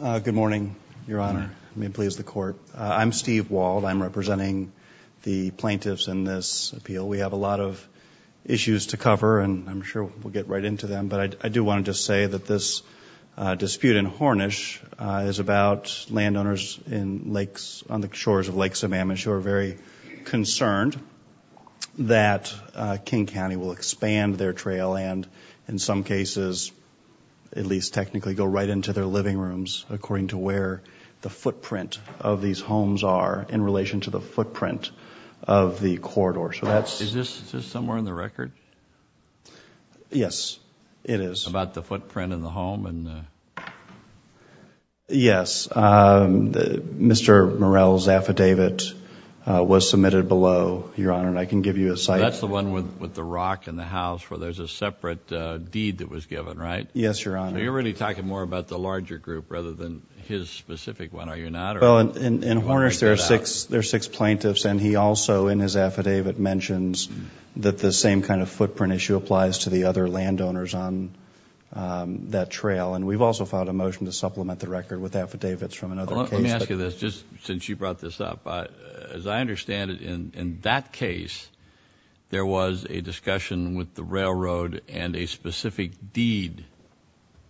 Good morning, Your Honor. May it please the Court. I'm Steve Wald. I'm representing the plaintiffs in this appeal. We have a lot of issues to cover and I'm sure we'll get right into them. But I do want to just say that this dispute in Hornish is about landowners on the shores of Lake Sammamish who are very concerned that King County will expand their trail and, in some cases, at least technically, go right into their living rooms according to where the footprint of these homes are in relation to the footprint of the corridor. Is this somewhere in the record? Yes, it is. About the footprint in the home? Yes. Mr. Morell's affidavit was submitted below, Your Honor, and I can give you a cite. That's the one with the rock in the house where there's a separate deed that was given, right? Yes, Your Honor. So you're really talking more about the larger group rather than his specific one, are you not? Well, in Hornish there are six plaintiffs and he also, in his affidavit, mentions that the same kind of footprint issue applies to the other landowners on that trail. And we've also filed a motion to supplement the record with affidavits from another case. Well, let me ask you this, just since you brought this up. As I understand it, in that case there was a discussion with the railroad and a specific deed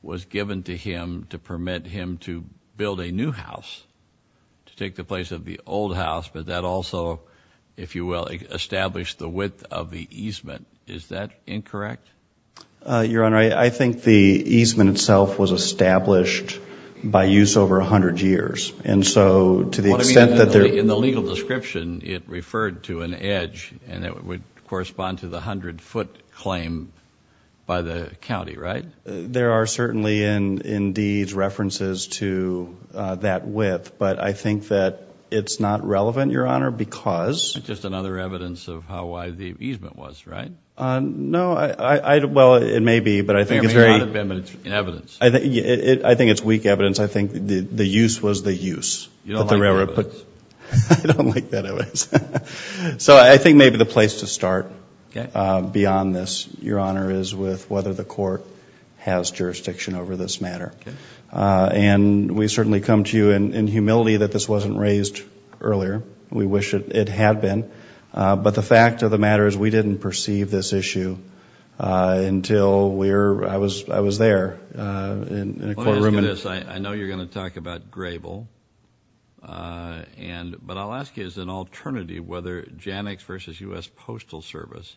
was given to him to permit him to build a new house, to take the place of the old house, but that also, if you will, established the width of the easement. Is that incorrect? Your Honor, I think the easement itself was established by use over 100 years. And so to the extent that there In the legal description it referred to an edge and it would correspond to the 100-foot claim by the county, right? There are certainly in deeds references to that width, but I think that it's not relevant, Your Honor, because Just another evidence of how wide the easement was, right? No, well, it may be, but I think it's very It may not have been, but it's evidence. I think it's weak evidence. I think the use was the use. You don't like evidence. I don't like that evidence. So I think maybe the place to start beyond this, Your Honor, is with whether the court has jurisdiction over this matter. And we certainly come to you in humility that this wasn't raised earlier. We wish it had been. But the fact of the matter is we didn't perceive this issue until I was there in a courtroom. Let me ask you this. I know you're going to talk about Grable. But I'll ask you as an alternative whether Janux v. U.S. Postal Service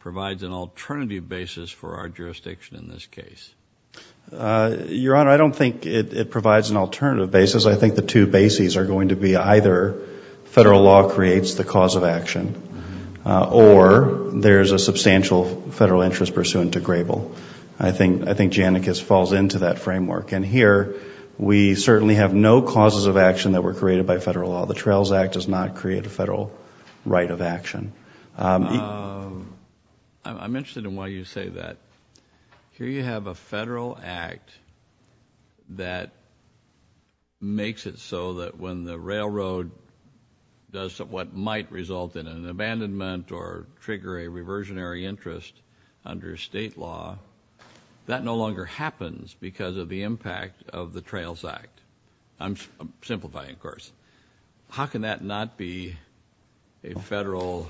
provides an alternative basis for our jurisdiction in this case. Your Honor, I don't think it provides an alternative basis. I think the two bases are going to be either federal law creates the cause of action or there's a substantial federal interest pursuant to Grable. I think Janux falls into that framework. And here we certainly have no causes of action that were created by federal law. The Trails Act does not create a federal right of action. I'm interested in why you say that. Here you have a federal act that makes it so that when the railroad does what might result in an abandonment or trigger a reversionary interest under state law, that no longer happens because of the impact of the Trails Act. How can that not be a federal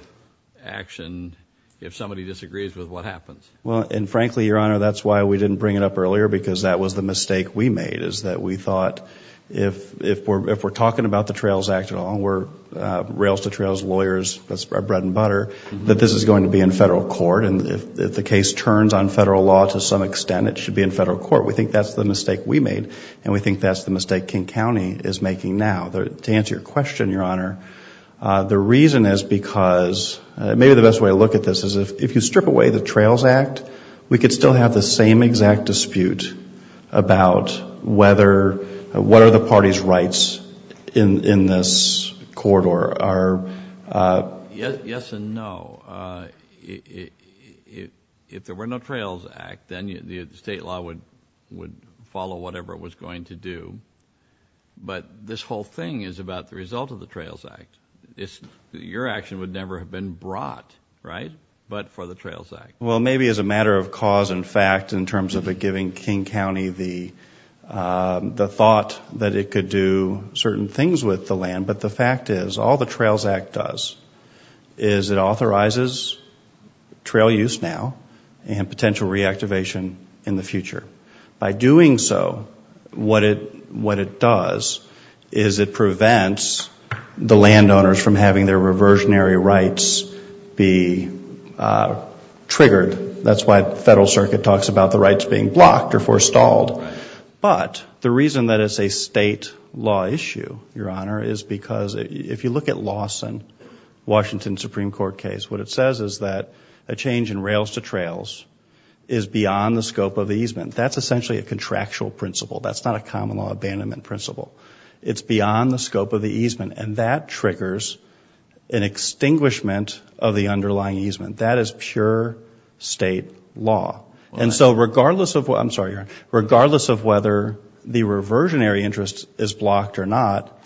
action if somebody disagrees with what happens? Well, and frankly, Your Honor, that's why we didn't bring it up earlier because that was the mistake we made, is that we thought if we're talking about the Trails Act at all, we're rails-to-trails lawyers, that's our bread and butter, that this is going to be in federal court. And if the case turns on federal law to some extent, it should be in federal court. We think that's the mistake we made, and we think that's the mistake King County is making now. To answer your question, Your Honor, the reason is because maybe the best way to look at this is if you strip away the Trails Act, we could still have the same exact dispute about what are the party's rights in this corridor. Yes and no. If there were no Trails Act, then the state law would follow whatever it was going to do. But this whole thing is about the result of the Trails Act. Your action would never have been brought, right, but for the Trails Act. Well, maybe as a matter of cause and fact in terms of giving King County the thought that it could do certain things with the land. But the fact is, all the Trails Act does is it authorizes trail use now and potential reactivation in the future. By doing so, what it does is it prevents the landowners from having their reversionary rights be triggered. That's why the federal circuit talks about the rights being blocked or forestalled. But the reason that it's a state law issue, Your Honor, is because if you look at Lawson, Washington Supreme Court case, what it says is that a change in rails to trails is beyond the scope of the easement. That's essentially a contractual principle. That's not a common law abandonment principle. It's beyond the scope of the easement, and that triggers an extinguishment of the underlying easement. That is pure state law. And so regardless of whether the reversionary interest is blocked or not,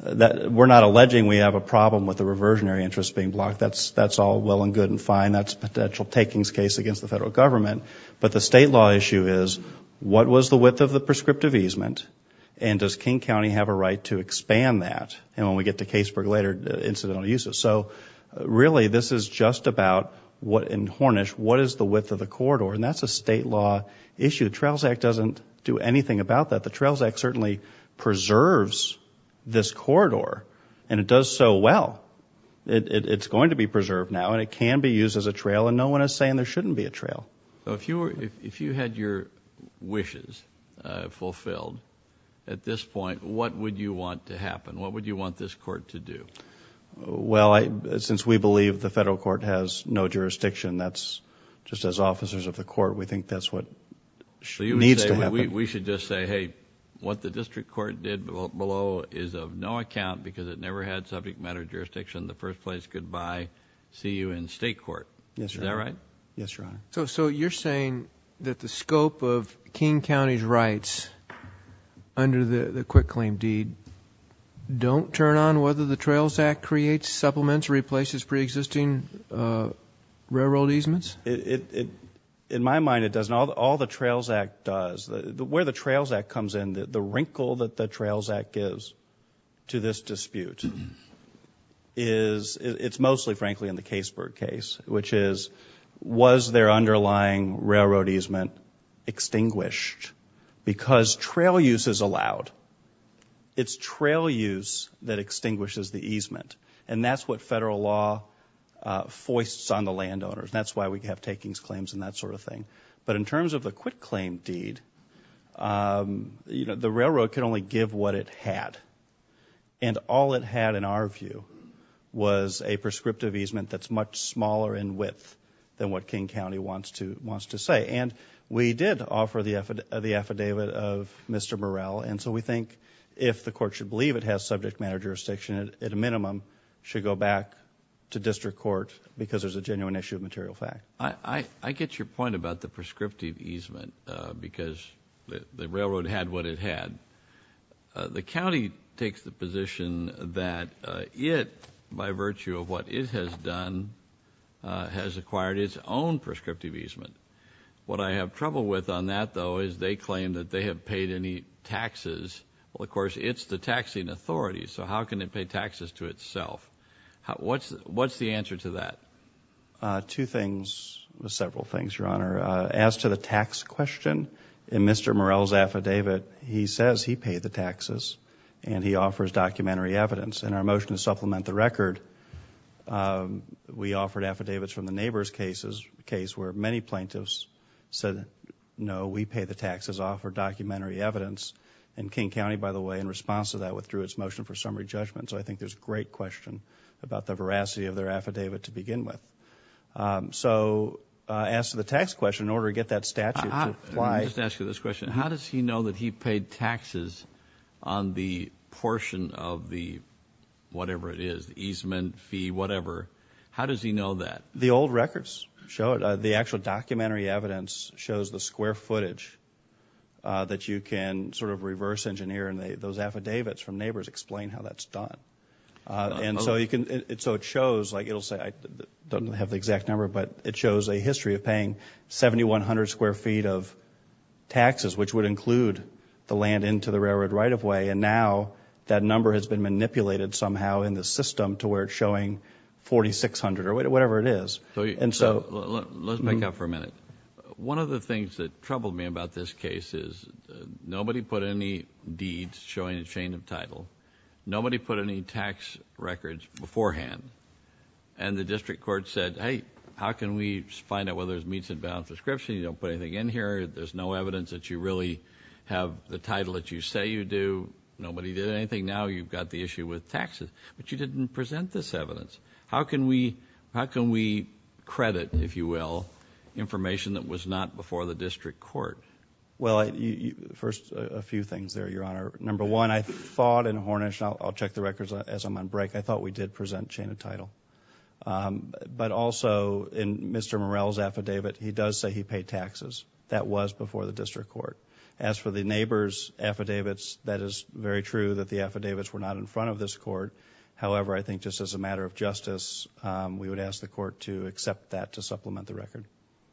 we're not alleging we have a problem with the reversionary interest being blocked. That's all well and good and fine. That's a potential takings case against the federal government. But the state law issue is, what was the width of the prescriptive easement, and does King County have a right to expand that when we get to Caseburg later incidental uses? So really this is just about what in Hornish, what is the width of the corridor? And that's a state law issue. The Trails Act doesn't do anything about that. The Trails Act certainly preserves this corridor, and it does so well. It's going to be preserved now, and it can be used as a trail, and no one is saying there shouldn't be a trail. So if you had your wishes fulfilled at this point, what would you want to happen? What would you want this court to do? Well, since we believe the federal court has no jurisdiction, that's just as officers of the court, we think that's what needs to happen. We should just say, hey, what the district court did below is of no account because it never had subject matter jurisdiction in the first place. Goodbye. See you in state court. Is that right? Yes, Your Honor. So you're saying that the scope of King County's rights under the quick claim deed don't turn on whether the Trails Act creates supplements, replaces preexisting railroad easements? In my mind, it doesn't. All the Trails Act does, where the Trails Act comes in, the wrinkle that the Trails Act gives to this dispute is, it's mostly, frankly, in the Caseberg case, which is, was their underlying railroad easement extinguished? Because trail use is allowed. It's trail use that extinguishes the easement. And that's what federal law foists on the landowners. That's why we have takings claims and that sort of thing. But in terms of the quick claim deed, the railroad can only give what it had. And all it had, in our view, was a prescriptive easement that's much smaller in width than what King County wants to say. And we did offer the affidavit of Mr. Murrell. And so we think if the court should believe it has subject matter jurisdiction, it at a minimum should go back to district court because there's a genuine issue of material fact. I get your point about the prescriptive easement because the railroad had what it had. The county takes the position that it, by virtue of what it has done, has acquired its own prescriptive easement. What I have trouble with on that, though, is they claim that they have paid any taxes. Well, of course, it's the taxing authority. So how can it pay taxes to itself? What's the answer to that? Two things, several things, Your Honor. As to the tax question in Mr. Murrell's affidavit, he says he paid the taxes and he offers documentary evidence. In our motion to supplement the record, we offered affidavits from the neighbor's case, a case where many plaintiffs said, no, we pay the taxes, offer documentary evidence. And King County, by the way, in response to that, withdrew its motion for summary judgment. So I think there's a great question about the veracity of their affidavit to begin with. So as to the tax question, in order to get that statute to apply. Let me just ask you this question. How does he know that he paid taxes on the portion of the whatever it is, easement, fee, whatever? How does he know that? The old records show it. The actual documentary evidence shows the square footage that you can sort of reverse engineer and those affidavits from neighbors explain how that's done. And so it shows like it'll say I don't have the exact number, but it shows a history of paying 7,100 square feet of taxes, which would include the land into the railroad right of way. And now that number has been manipulated somehow in the system to where it's showing 4,600 or whatever it is. And so let's make up for a minute. One of the things that troubled me about this case is nobody put any deeds showing a chain of title. Nobody put any tax records beforehand. And the district court said, hey, how can we find out whether it meets advanced description? You don't put anything in here. There's no evidence that you really have the title that you say you do. Nobody did anything. Now you've got the issue with taxes. But you didn't present this evidence. How can we credit, if you will, information that was not before the district court? Well, first a few things there, Your Honor. Number one, I thought in Hornish, and I'll check the records as I'm on break, I thought we did present chain of title. But also in Mr. Morrell's affidavit, he does say he paid taxes. That was before the district court. As for the neighbor's affidavits, that is very true that the affidavits were not in front of this court. However, I think just as a matter of justice, we would ask the court to accept that to supplement the record.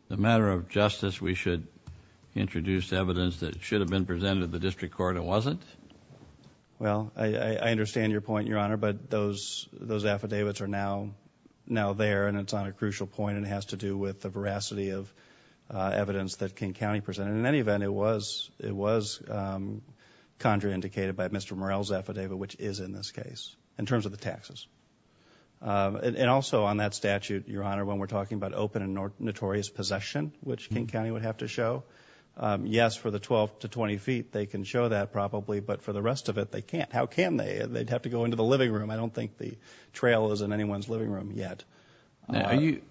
As a matter of justice, we should introduce evidence that should have been presented to the district court and wasn't? Well, I understand your point, Your Honor, but those affidavits are now there and it's on a crucial point and it has to do with the veracity of evidence that King County presented. In any event, it was contraindicated by Mr. Morrell's affidavit, which is in this case, in terms of the taxes. And also on that statute, Your Honor, when we're talking about open and notorious possession, which King County would have to show, yes, for the 12 to 20 feet, they can show that probably, but for the rest of it, they can't. How can they? They'd have to go into the living room. I don't think the trail is in anyone's living room yet. Now, do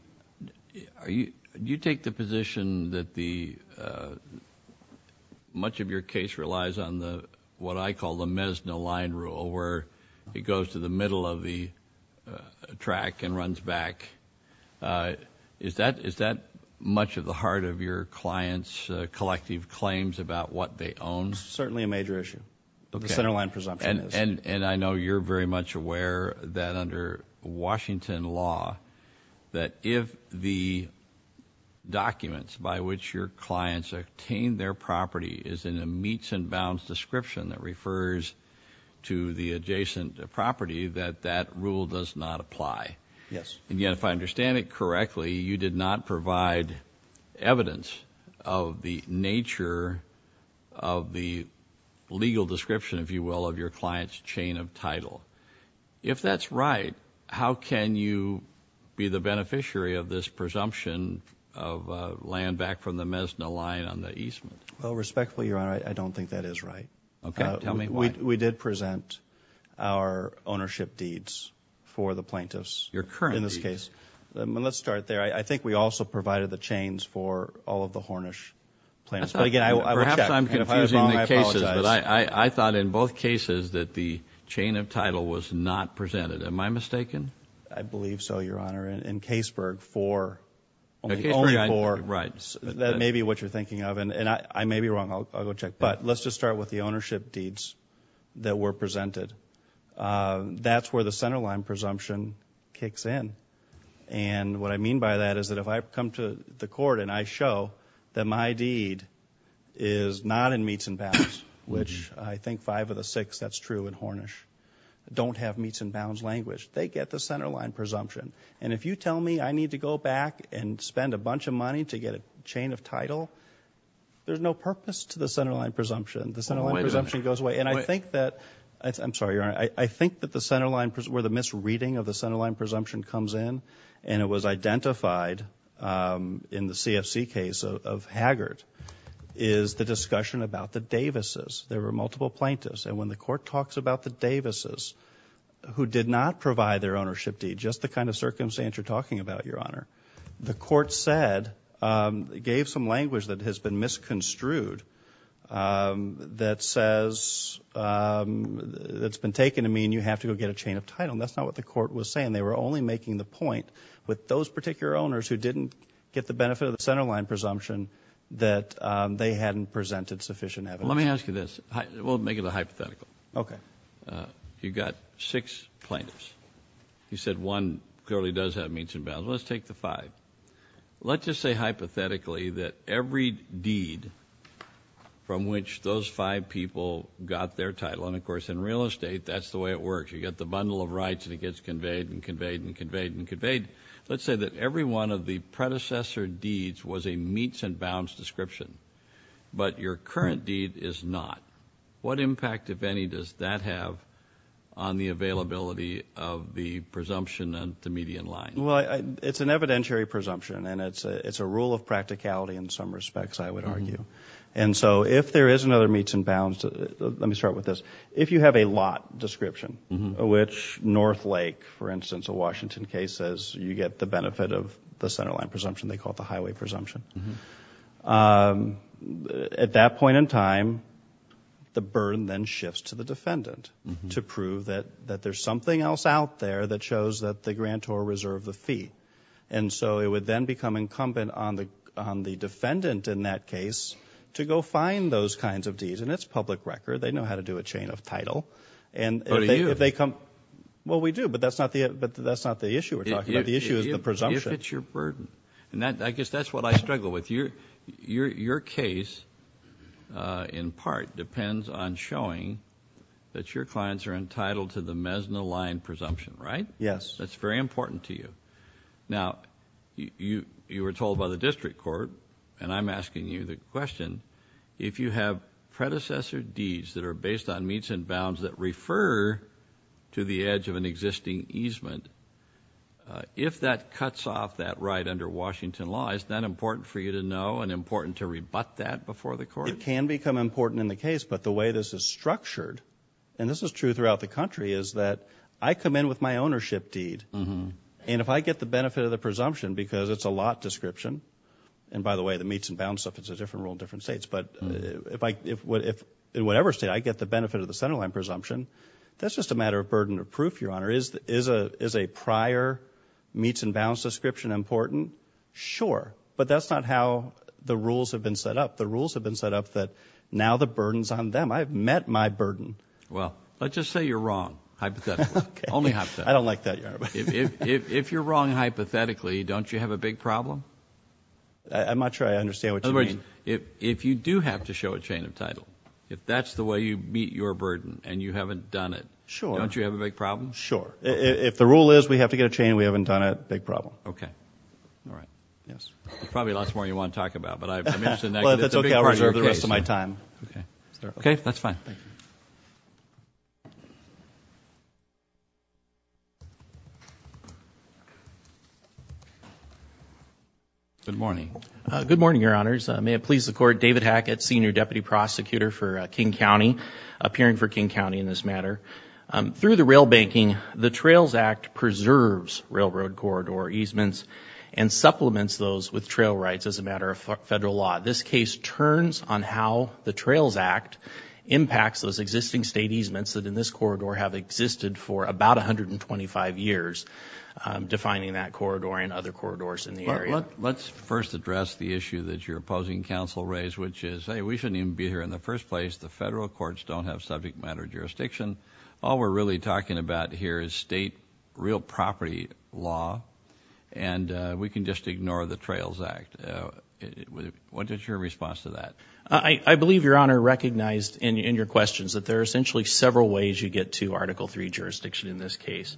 you take the position that much of your case relies on what I call the Mezno line rule, where it goes to the middle of the track and runs back? Is that much of the heart of your clients' collective claims about what they own? It's certainly a major issue. The center line presumption is. And I know you're very much aware that under Washington law, that if the documents by which your clients obtain their property is in a meets and bounds description that refers to the adjacent property, that that rule does not apply. Yes. And yet, if I understand it correctly, you did not provide evidence of the nature of the legal description, if you will, of your clients' chain of title. If that's right, how can you be the beneficiary of this presumption of land back from the Mezno line on the Eastman? Well, respectfully, Your Honor, I don't think that is right. Okay. Tell me why. We did present our ownership deeds for the plaintiffs. Your current deeds. In this case. Let's start there. I think we also provided the chains for all of the Hornish plaintiffs. Perhaps I'm confusing the cases, but I thought in both cases that the chain of title was not presented. Am I mistaken? I believe so, Your Honor. In Caseburg, four. Only four. Right. That may be what you're thinking of, and I may be wrong. I'll go check. But let's just start with the ownership deeds that were presented. That's where the center line presumption kicks in. And what I mean by that is that if I come to the court and I show that my deed is not in Meats and Bounds, which I think five of the six, that's true in Hornish, don't have Meats and Bounds language, they get the center line presumption. And if you tell me I need to go back and spend a bunch of money to get a chain of title, there's no purpose to the center line presumption. The center line presumption goes away. I'm sorry, Your Honor. I think that where the misreading of the center line presumption comes in, and it was identified in the CFC case of Haggard, is the discussion about the Davises. There were multiple plaintiffs. And when the court talks about the Davises who did not provide their ownership deed, just the kind of circumstance you're talking about, Your Honor, the court gave some language that has been misconstrued that says it's been taken to mean you have to go get a chain of title. And that's not what the court was saying. They were only making the point with those particular owners who didn't get the benefit of the center line presumption that they hadn't presented sufficient evidence. Let me ask you this. We'll make it a hypothetical. Okay. You've got six plaintiffs. You said one clearly does have Meats and Bounds. Let's take the five. Let's just say hypothetically that every deed from which those five people got their title, and, of course, in real estate, that's the way it works. You've got the bundle of rights, and it gets conveyed and conveyed and conveyed and conveyed. Let's say that every one of the predecessor deeds was a Meats and Bounds description, but your current deed is not. What impact, if any, does that have on the availability of the presumption on the median line? Well, it's an evidentiary presumption, and it's a rule of practicality in some respects, I would argue. And so if there is another Meats and Bounds, let me start with this. If you have a lot description, which North Lake, for instance, a Washington case, says you get the benefit of the center line presumption, they call it the highway presumption. At that point in time, the burden then shifts to the defendant to prove that there's something else out there that shows that the grantor reserved the fee. And so it would then become incumbent on the defendant in that case to go find those kinds of deeds. And it's public record. They know how to do a chain of title. But do you? Well, we do, but that's not the issue we're talking about. The issue is the presumption. But it's your burden. And I guess that's what I struggle with. Your case, in part, depends on showing that your clients are entitled to the Mesna line presumption, right? Yes. That's very important to you. Now, you were told by the district court, and I'm asking you the question, if you have predecessor deeds that are based on Meats and Bounds that refer to the edge of an existing easement, if that cuts off that right under Washington law, is that important for you to know and important to rebut that before the court? It can become important in the case, but the way this is structured, and this is true throughout the country, is that I come in with my ownership deed. And if I get the benefit of the presumption, because it's a lot description, and by the way, the Meats and Bounds stuff is a different rule in different states, but in whatever state, I get the benefit of the centerline presumption, that's just a matter of burden of proof, Your Honor. Is a prior Meats and Bounds description important? Sure. But that's not how the rules have been set up. The rules have been set up that now the burden's on them. I've met my burden. Well, let's just say you're wrong, hypothetically. Okay. Only hypothetically. I don't like that, Your Honor. If you're wrong hypothetically, don't you have a big problem? I'm not sure I understand what you mean. In other words, if you do have to show a chain of title, if that's the way you meet your burden and you haven't done it, don't you have a big problem? Sure. If the rule is we have to get a chain and we haven't done it, big problem. Okay. All right. Yes. There's probably lots more you want to talk about, but I mentioned that. Well, if that's okay, I'll reserve the rest of my time. Okay. That's fine. Thank you. Good morning. Good morning, Your Honors. May it please the Court, David Hackett, Senior Deputy Prosecutor for King County, appearing for King County in this matter. Through the rail banking, the Trails Act preserves railroad corridor easements and supplements those with trail rights as a matter of federal law. This case turns on how the Trails Act impacts those existing state easements that in this corridor have existed for about 125 years, defining that corridor and other corridors in the area. Let's first address the issue that your opposing counsel raised, which is, hey, we shouldn't even be here in the first place. The federal courts don't have subject matter jurisdiction. All we're really talking about here is state real property law, and we can just ignore the Trails Act. What is your response to that? I believe, Your Honor, recognized in your questions that there are essentially several ways you get to Article III jurisdiction in this case.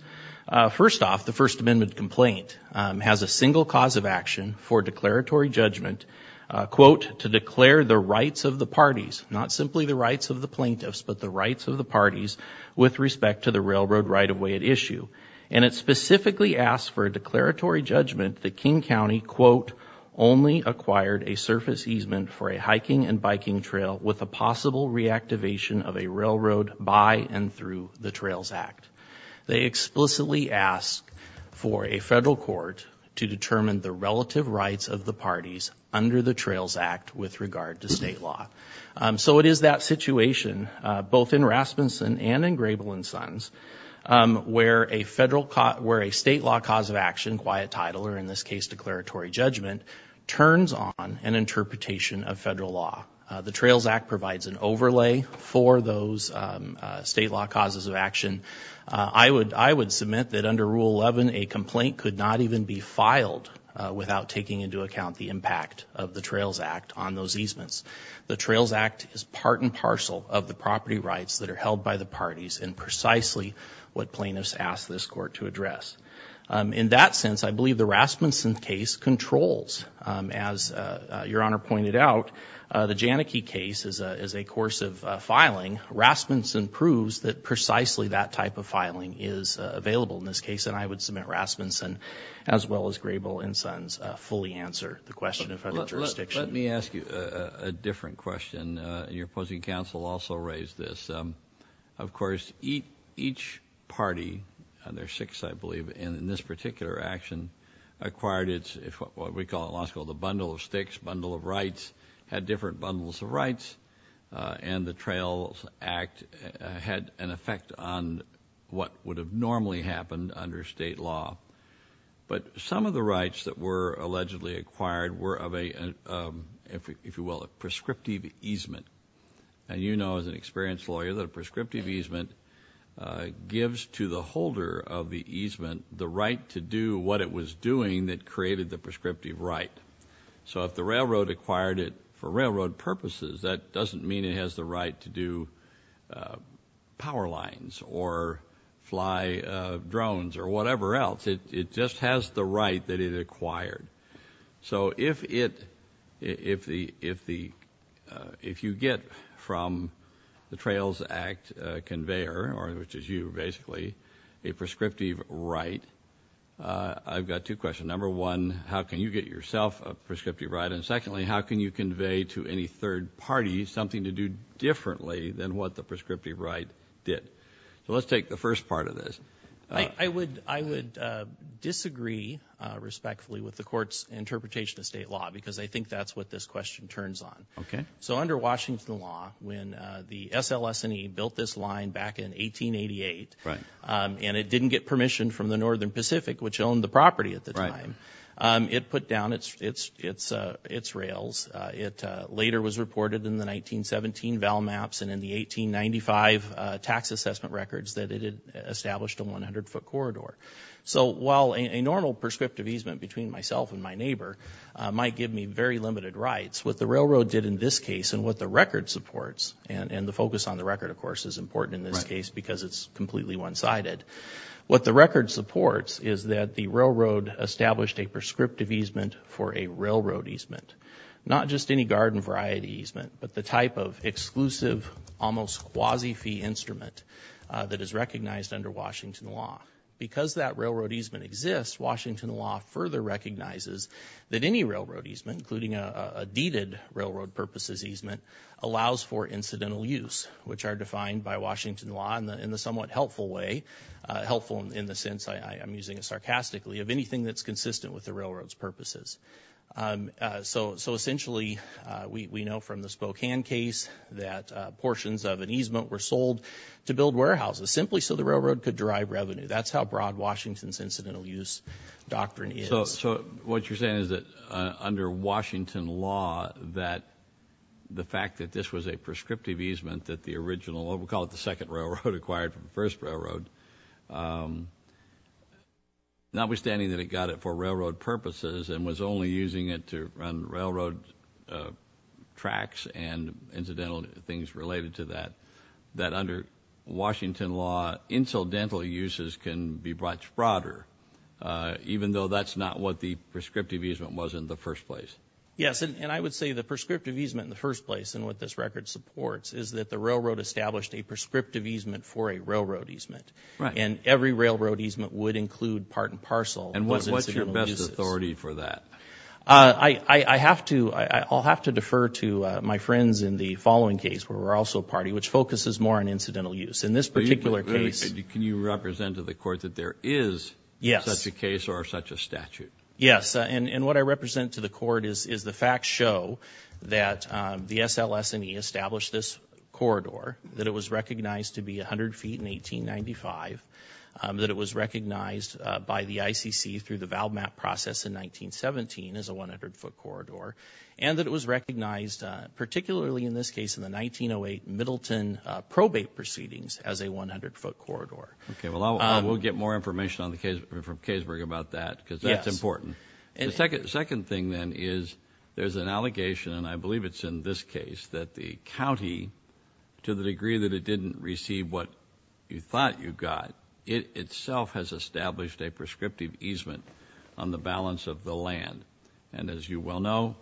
First off, the First Amendment complaint has a single cause of action for declaratory judgment, to declare the rights of the parties, not simply the rights of the plaintiffs, but the rights of the parties with respect to the railroad right-of-way at issue. And it specifically asks for a declaratory judgment that King County, quote, only acquired a surface easement for a hiking and biking trail with a possible reactivation of a railroad by and through the Trails Act. They explicitly ask for a federal court to determine the relative rights of the parties under the Trails Act with regard to state law. So it is that situation, both in Rasmussen and in Grable & Sons, where a state law cause of action, quiet title, or in this case, declaratory judgment, turns on an interpretation of federal law. The Trails Act provides an overlay for those state law causes of action. I would submit that under Rule 11, a complaint could not even be filed without taking into account the impact of the Trails Act on those easements. The Trails Act is part and parcel of the property rights that are held by the parties and precisely what plaintiffs ask this court to address. In that sense, I believe the Rasmussen case controls, the Janicki case is a course of filing. Rasmussen proves that precisely that type of filing is available in this case, and I would submit Rasmussen, as well as Grable & Sons, fully answer the question of federal jurisdiction. Let me ask you a different question. Your opposing counsel also raised this. Of course, each party, and there are six, I believe, in this particular action acquired what we call at law school had different bundles of rights, and the Trails Act had an effect on what would have normally happened under state law. But some of the rights that were allegedly acquired were of a, if you will, a prescriptive easement. And you know as an experienced lawyer that a prescriptive easement gives to the holder of the easement the right to do what it was doing that created the prescriptive right. So if the railroad acquired it for railroad purposes, that doesn't mean it has the right to do power lines or fly drones or whatever else. It just has the right that it acquired. So if you get from the Trails Act conveyor, which is you basically, a prescriptive right, I've got two questions. Number one, how can you get yourself a prescriptive right? And secondly, how can you convey to any third party something to do differently than what the prescriptive right did? So let's take the first part of this. I would disagree respectfully with the court's interpretation of state law because I think that's what this question turns on. So under Washington law, when the SLS&E built this line back in 1888 and it didn't get permission from the Northern Pacific, which owned the property at the time, it put down its rails. It later was reported in the 1917 VALMAPS and in the 1895 tax assessment records that it had established a 100-foot corridor. So while a normal prescriptive easement between myself and my neighbor might give me very limited rights, what the railroad did in this case and what the record supports, and the focus on the record, of course, is important in this case because it's completely one-sided. What the record supports is that the railroad established a prescriptive easement for a railroad easement, not just any garden variety easement, but the type of exclusive, almost quasi-fee instrument that is recognized under Washington law. Because that railroad easement exists, Washington law further recognizes that any railroad easement, including a deeded railroad purposes easement, allows for incidental use, which are defined by Washington law in the somewhat helpful way, helpful in the sense I'm using it sarcastically, of anything that's consistent with the railroad's purposes. So essentially, we know from the Spokane case that portions of an easement were sold to build warehouses simply so the railroad could derive revenue. That's how broad Washington's incidental use doctrine is. So what you're saying is that under Washington law, that the fact that this was a prescriptive easement, that the original, we'll call it the second railroad, acquired from the first railroad, notwithstanding that it got it for railroad purposes and was only using it to run railroad tracks and incidental things related to that, that under Washington law, incidental uses can be much broader, even though that's not what the prescriptive easement was in the first place. Yes, and I would say the prescriptive easement in the first place and what this record supports is that the railroad established a prescriptive easement for a railroad easement, and every railroad easement would include part and parcel of those incidental uses. And what's your best authority for that? I'll have to defer to my friends in the following case, where we're also a party, which focuses more on incidental use. In this particular case... Can you represent to the court that there is such a case or such a statute? Yes, and what I represent to the court is the facts show that the SLS&E established this corridor, that it was recognized to be 100 feet in 1895, that it was recognized by the ICC through the valve map process in 1917 as a 100-foot corridor, and that it was recognized, particularly in this case, in the 1908 Middleton probate proceedings as a 100-foot corridor. Okay, well, we'll get more information from Kaysburg about that, because that's important. The second thing, then, is there's an allegation, and I believe it's in this case, that the county, to the degree that it didn't receive what you thought you got, it itself has established a prescriptive easement on the balance of the land. And as you well know,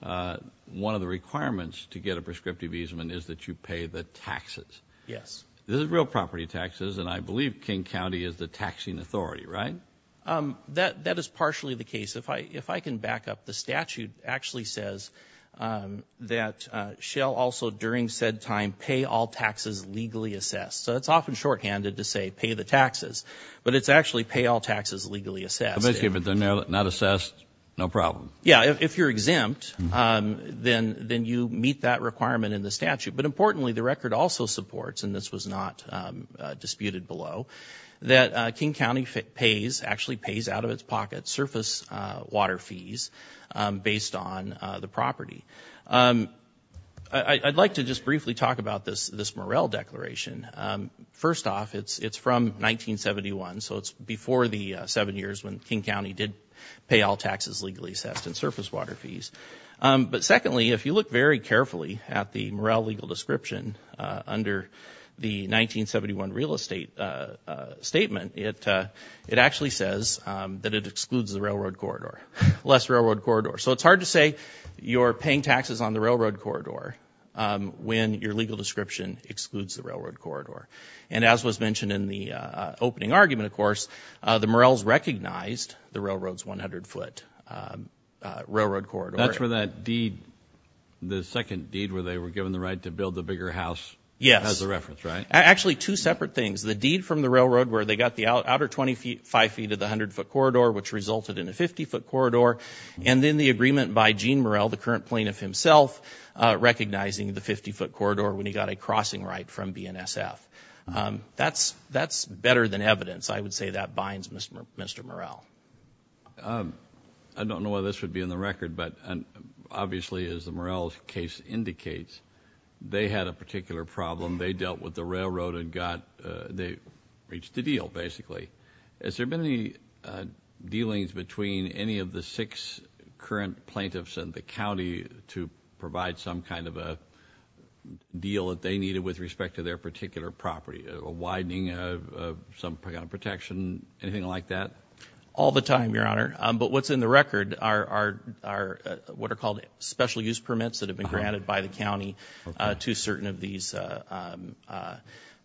one of the requirements to get a prescriptive easement is that you pay the taxes. This is real property taxes, and I believe King County is the taxing authority, right? That is partially the case. If I can back up, the statute actually says that shall also during said time pay all taxes legally assessed. So it's often shorthanded to say pay the taxes, but it's actually pay all taxes legally assessed. Okay, but they're not assessed, no problem. Yeah, if you're exempt, then you meet that requirement in the statute. But importantly, the record also supports, and this was not disputed below, that King County pays, actually pays out of its pocket, surface water fees based on the property. I'd like to just briefly talk about this Morrell Declaration. First off, it's from 1971, so it's before the seven years when King County did pay all taxes legally assessed and surface water fees. But secondly, if you look very carefully at the Morrell legal description under the 1971 real estate statement, it actually says that it excludes the railroad corridor, less railroad corridor. So it's hard to say you're paying taxes on the railroad corridor when your legal description excludes the railroad corridor. And as was mentioned in the opening argument, of course, the Morrells recognized the railroad's 100-foot railroad corridor. That's where that deed, the second deed where they were given the right to build the bigger house, has the reference, right? Actually, two separate things. The deed from the railroad where they got the outer 25 feet of the 100-foot corridor, which resulted in a 50-foot corridor, and then the agreement by Gene Morrell, the current plaintiff himself, recognizing the 50-foot corridor when he got a crossing right from BNSF. That's better than evidence, I would say. That binds Mr. Morrell. I don't know whether this would be in the record, but obviously, as the Morrells case indicates, they had a particular problem. They dealt with the railroad and they reached a deal, basically. Has there been any dealings between any of the six current plaintiffs in the county to provide some kind of a deal that they needed with respect to their particular property, a widening of some kind of protection, anything like that? All the time, Your Honor. But what's in the record are what are called special use permits that have been granted by the county to certain of these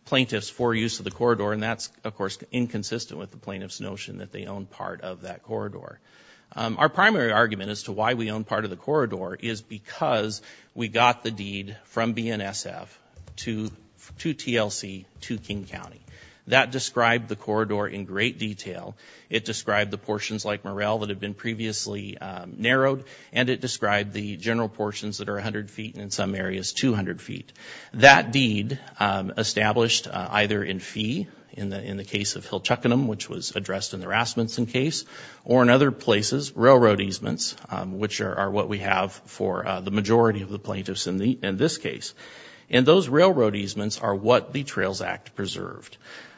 plaintiffs for use of the corridor, and that's, of course, inconsistent with the plaintiff's notion that they own part of that corridor. Our primary argument as to why we own part of the corridor is because we got the deed from BNSF to TLC to King County. That described the corridor in great detail. It described the portions like Morrell that had been previously narrowed, and it described the general portions that are 100 feet and in some areas 200 feet. That deed established either in fee, in the case of Hillchuckenham, which was addressed in the Rasmussen case, or in other places, railroad easements, which are what we have for the majority of the plaintiffs in this case. And those railroad easements are what the Trails Act preserved.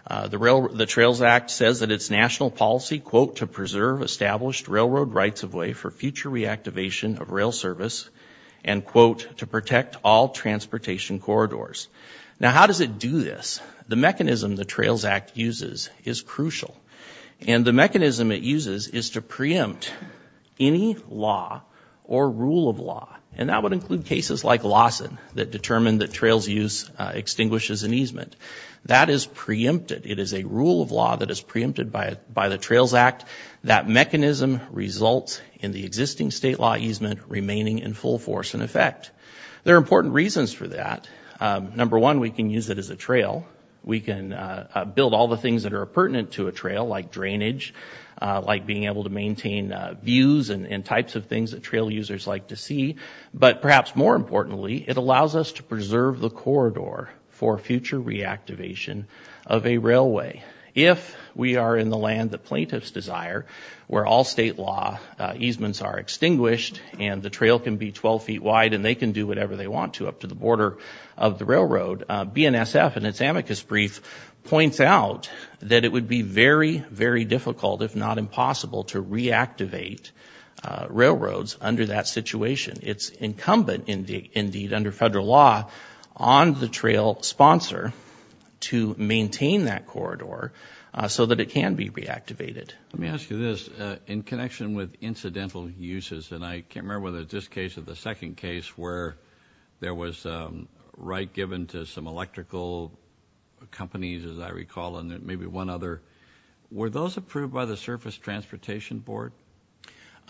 The Trails Act says that its national policy, quote, to preserve established railroad rights of way for future reactivation of rail service, and quote, to protect all transportation corridors. Now, how does it do this? The mechanism the Trails Act uses is crucial, and the mechanism it uses is to preempt any law or rule of law, and that would include cases like Lawson that determined that trails use extinguishes an easement. That is preempted. It is a rule of law that is preempted by the Trails Act. That mechanism results in the existing state law easement remaining in full force in effect. There are important reasons for that. Number one, we can use it as a trail. We can build all the things that are pertinent to a trail, like drainage, like being able to maintain views and types of things that trail users like to see. But perhaps more importantly, it allows us to preserve the corridor for future reactivation of a railway. If we are in the land that plaintiffs desire, where all state law easements are extinguished and the trail can be 12 feet wide and they can do whatever they want to up to the border of the railroad, BNSF, in its amicus brief, points out that it would be very, very difficult, if not impossible, to reactivate railroads under that situation. It's incumbent, indeed, under federal law, on the trail sponsor to maintain that corridor so that it can be reactivated. Let me ask you this. In connection with incidental uses, and I can't remember whether it's this case or the second case, where there was a right given to some electrical companies, as I recall, and maybe one other, were those approved by the Surface Transportation Board?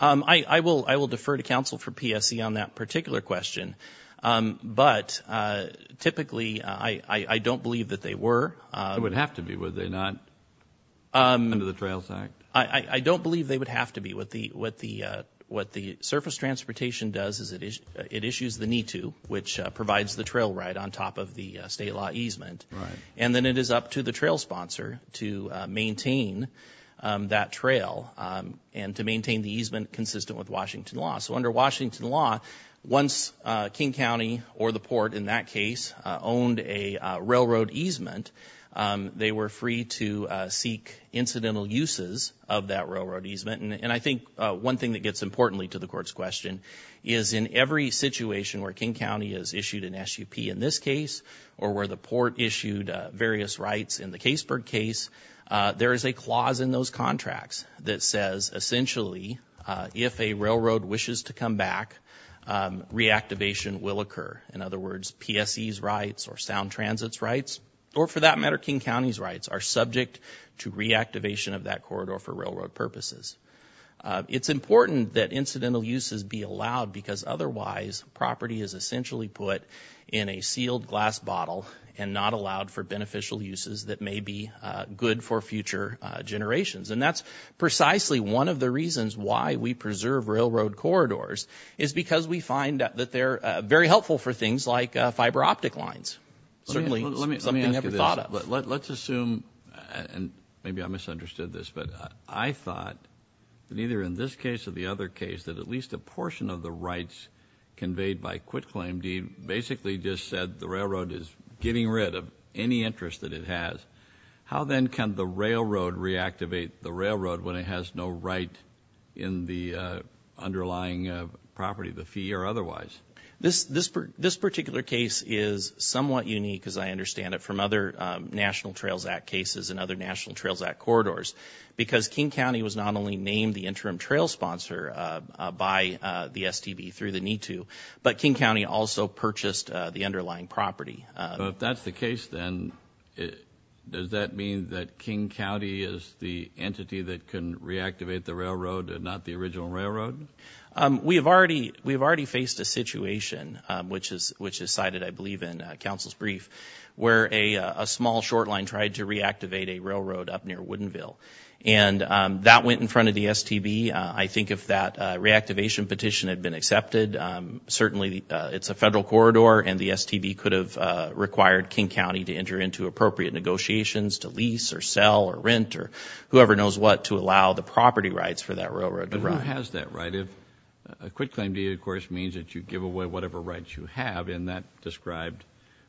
I will defer to counsel for PSE on that particular question. But typically, I don't believe that they were. It would have to be, would they not, under the Trails Act? I don't believe they would have to be. What the Surface Transportation does is it issues the NITU, which provides the trail right on top of the state law easement, and then it is up to the trail sponsor to maintain that trail and to maintain the easement consistent with Washington law. So under Washington law, once King County or the Port, in that case, owned a railroad easement, they were free to seek incidental uses of that railroad easement. And I think one thing that gets importantly to the Court's question is in every situation where King County has issued an SUP in this case or where the Port issued various rights in the Caseburg case, there is a clause in those contracts that says, essentially, if a railroad wishes to come back, reactivation will occur. In other words, PSE's rights or Sound Transit's rights, or for that matter, King County's rights, are subject to reactivation of that corridor for railroad purposes. It's important that incidental uses be allowed because otherwise property is essentially put in a sealed glass bottle and not allowed for beneficial uses that may be good for future generations. And that's precisely one of the reasons why we preserve railroad corridors is because we find that they're very helpful for things like fiber optic lines, certainly something never thought of. Let's assume, and maybe I misunderstood this, but I thought that either in this case or the other case that at least a portion of the rights conveyed by quitclaim, basically just said the railroad is getting rid of any interest that it has. How then can the railroad reactivate the railroad when it has no right in the underlying property, the fee or otherwise? This particular case is somewhat unique, as I understand it, from other National Trails Act cases and other National Trails Act corridors because King County was not only named the interim trail sponsor by the STB through the need to, but King County also purchased the underlying property. If that's the case then, does that mean that King County is the entity that can reactivate the railroad and not the original railroad? We have already faced a situation, which is cited I believe in counsel's brief, where a small short line tried to reactivate a railroad up near Woodinville. And that went in front of the STB. I think if that reactivation petition had been accepted, certainly it's a federal corridor and the STB could have required King County to enter into appropriate negotiations to lease or sell or rent or whoever knows what to allow the property rights for that railroad to run. But who has that right if a quitclaim deed, of course, means that you give away whatever rights you have in that described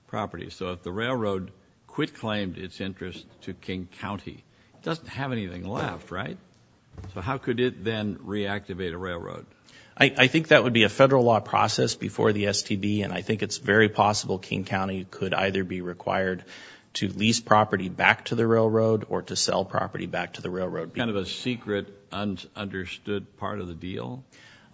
property? So if the railroad quitclaimed its interest to King County, it doesn't have anything left, right? So how could it then reactivate a railroad? I think that would be a federal law process before the STB, and I think it's very possible King County could either be required to lease property back to the railroad or to sell property back to the railroad. Kind of a secret, understood part of the deal?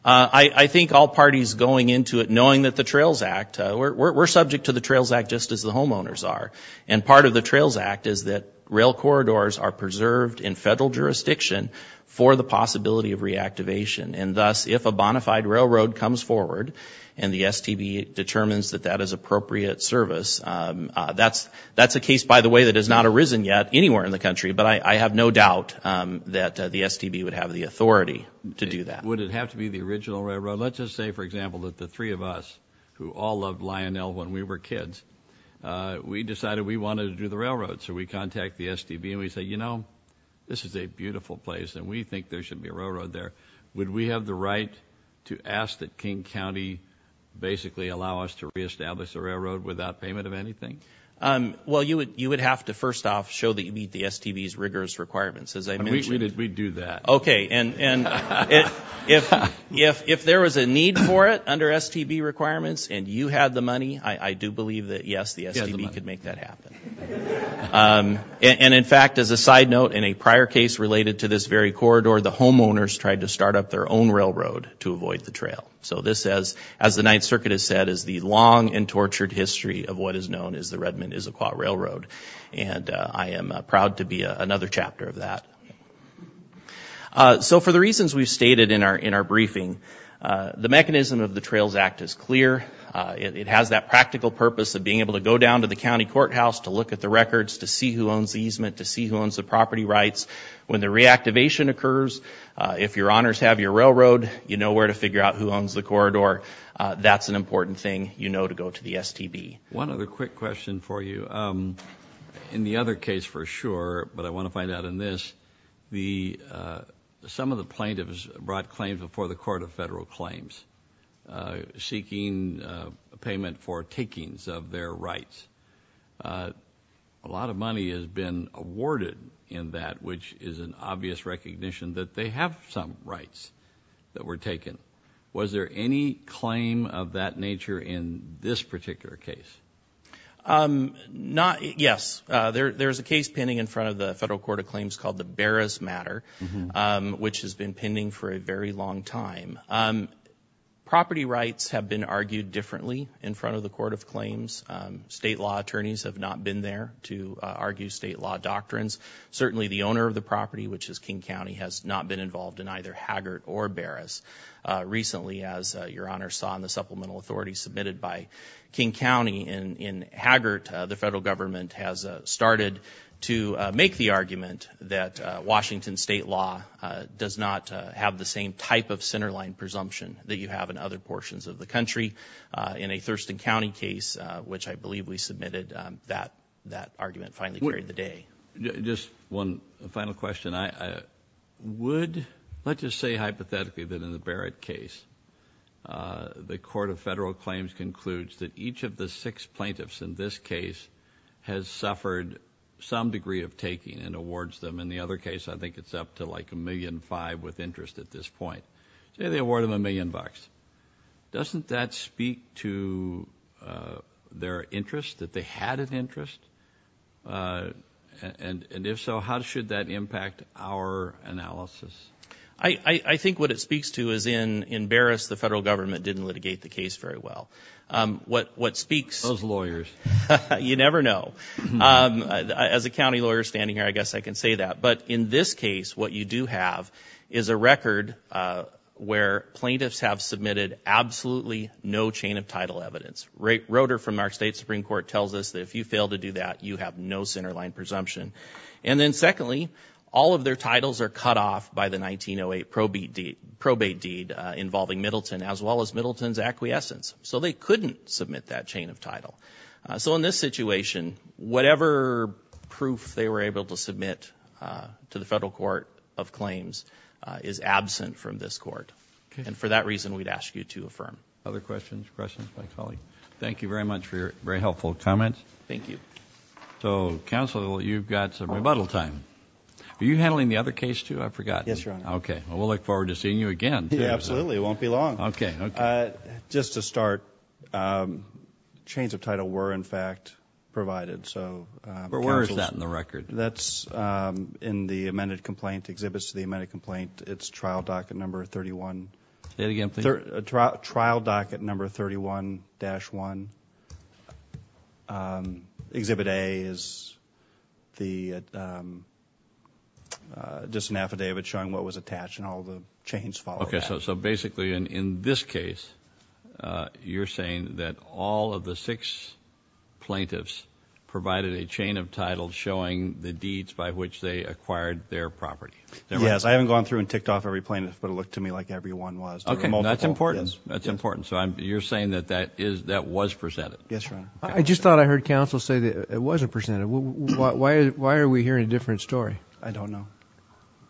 I think all parties going into it knowing that the Trails Act, we're subject to the Trails Act just as the homeowners are. And part of the Trails Act is that rail corridors are preserved in federal jurisdiction for the possibility of reactivation. And thus, if a bonafide railroad comes forward and the STB determines that that is appropriate service, that's a case, by the way, that has not arisen yet anywhere in the country, but I have no doubt that the STB would have the authority to do that. Would it have to be the original railroad? Let's just say, for example, that the three of us who all loved Lionel when we were kids, we decided we wanted to do the railroad. So we contact the STB and we say, you know, this is a beautiful place and we think there should be a railroad there. Would we have the right to ask that King County basically allow us to reestablish a railroad without payment of anything? Well, you would have to first off show that you meet the STB's rigorous requirements. We do that. Okay, and if there was a need for it under STB requirements and you had the money, I do believe that, yes, the STB could make that happen. And, in fact, as a side note, in a prior case related to this very corridor, the homeowners tried to start up their own railroad to avoid the trail. So this, as the Ninth Circuit has said, is the long and tortured history of what is known as the Redmond-Issaquah Railroad, and I am proud to be another chapter of that. So for the reasons we've stated in our briefing, the mechanism of the Trails Act is clear. It has that practical purpose of being able to go down to the county courthouse to look at the records to see who owns the easement, to see who owns the property rights. When the reactivation occurs, if your honors have your railroad, you know where to figure out who owns the corridor. That's an important thing you know to go to the STB. One other quick question for you. In the other case for sure, but I want to find out in this, some of the plaintiffs brought claims before the Court of Federal Claims seeking payment for takings of their rights. A lot of money has been awarded in that, which is an obvious recognition that they have some rights that were taken. Was there any claim of that nature in this particular case? Yes. There is a case pending in front of the Federal Court of Claims called the Barras matter, which has been pending for a very long time. Property rights have been argued differently in front of the Court of Claims. State law attorneys have not been there to argue state law doctrines. Certainly, the owner of the property, which is King County, has not been involved in either Haggart or Barras. Recently, as your honors saw in the supplemental authority submitted by King County in Haggart, the federal government has started to make the argument that Washington state law does not have the same type of centerline presumption that you have in other portions of the country. In a Thurston County case, which I believe we submitted, that argument finally carried the day. Just one final question. Would, let's just say hypothetically that in the Barrett case, the Court of Federal Claims concludes that each of the six plaintiffs in this case has suffered some degree of taking and awards them. In the other case, I think it's up to like a million five with interest at this point. They award them a million bucks. Doesn't that speak to their interest, that they had an interest? And if so, how should that impact our analysis? I think what it speaks to is in Barras, the federal government didn't litigate the case very well. What speaks... Those lawyers. You never know. As a county lawyer standing here, I guess I can say that. But in this case, what you do have is a record where plaintiffs have submitted absolutely no chain of title evidence. Roeder from our state Supreme Court tells us that if you fail to do that, you have no centerline presumption. And then secondly, all of their titles are cut off by the 1908 probate deed involving Middleton, as well as Middleton's acquiescence. So they couldn't submit that chain of title. So in this situation, whatever proof they were able to submit to the federal court of claims is absent from this court. And for that reason, we'd ask you to affirm. Other questions, questions by colleagues? Thank you very much for your very helpful comments. Thank you. So, counsel, you've got some rebuttal time. Are you handling the other case, too? I've forgotten. Yes, Your Honor. Okay. Well, we'll look forward to seeing you again. Absolutely. It won't be long. Okay. Just to start, chains of title were, in fact, provided. But where is that in the record? That's in the amended complaint, exhibits to the amended complaint. It's trial docket number 31. Say it again, please. It's trial docket number 31-1. Exhibit A is just an affidavit showing what was attached and all the chains following that. Okay, so basically in this case, you're saying that all of the six plaintiffs provided a chain of title showing the deeds by which they acquired their property. Yes, I haven't gone through and ticked off every plaintiff, but it looked to me like every one was. Okay, that's important. That's important. So you're saying that that was presented? Yes, Your Honor. I just thought I heard counsel say that it wasn't presented. Why are we hearing a different story? I don't know.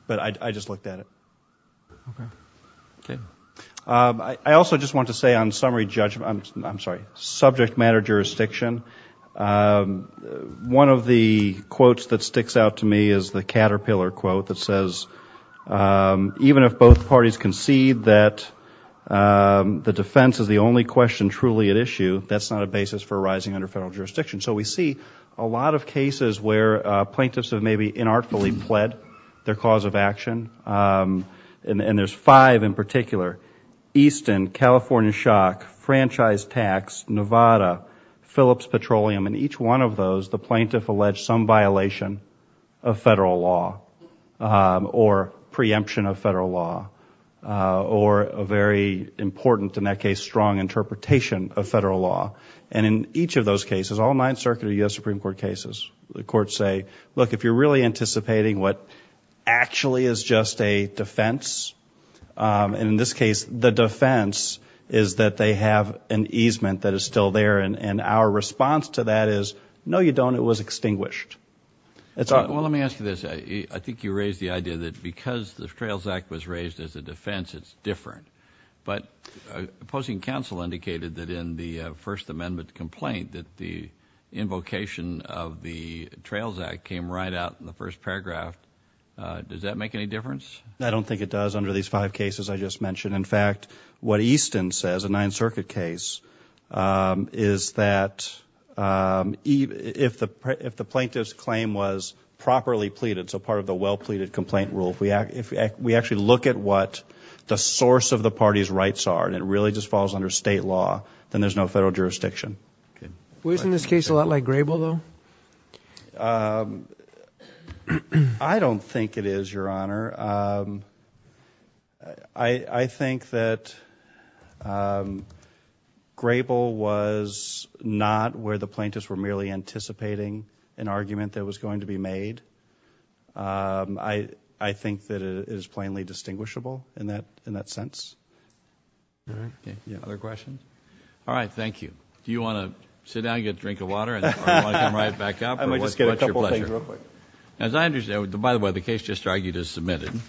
But I just looked at it. Okay. Okay. I also just want to say on summary judgment, I'm sorry, subject matter jurisdiction, one of the quotes that sticks out to me is the caterpillar quote that says, even if both parties concede that the defense is the only question truly at issue, that's not a basis for arising under federal jurisdiction. So we see a lot of cases where plaintiffs have maybe inartfully pled their cause of action, and there's five in particular. Easton, California Shock, Franchise Tax, Nevada, Phillips Petroleum, and each one of those the plaintiff alleged some violation of federal law or preemption of federal law or a very important, in that case, strong interpretation of federal law. And in each of those cases, all nine circuit of U.S. Supreme Court cases, the courts say, look, if you're really anticipating what actually is just a defense, and in this case the defense is that they have an easement that is still there, and our response to that is, no, you don't, it was extinguished. Well, let me ask you this. I think you raised the idea that because the Trails Act was raised as a defense, it's different. But opposing counsel indicated that in the First Amendment complaint that the invocation of the Trails Act came right out in the first paragraph. Does that make any difference? I don't think it does under these five cases I just mentioned. In fact, what Easton says, a Ninth Circuit case, is that if the plaintiff's claim was properly pleaded, so part of the well-pleaded complaint rule, if we actually look at what the source of the party's rights are and it really just falls under state law, then there's no federal jurisdiction. Wasn't this case a lot like Grable, though? I don't think it is, Your Honor. I think that Grable was not where the plaintiffs were merely anticipating an argument that was going to be made. I think that it is plainly distinguishable in that sense. Other questions? All right, thank you. Do you want to sit down and get a drink of water, or do you want to come right back up? I might just get a couple things real quick. As I understand, by the way, the case just argued is submitted.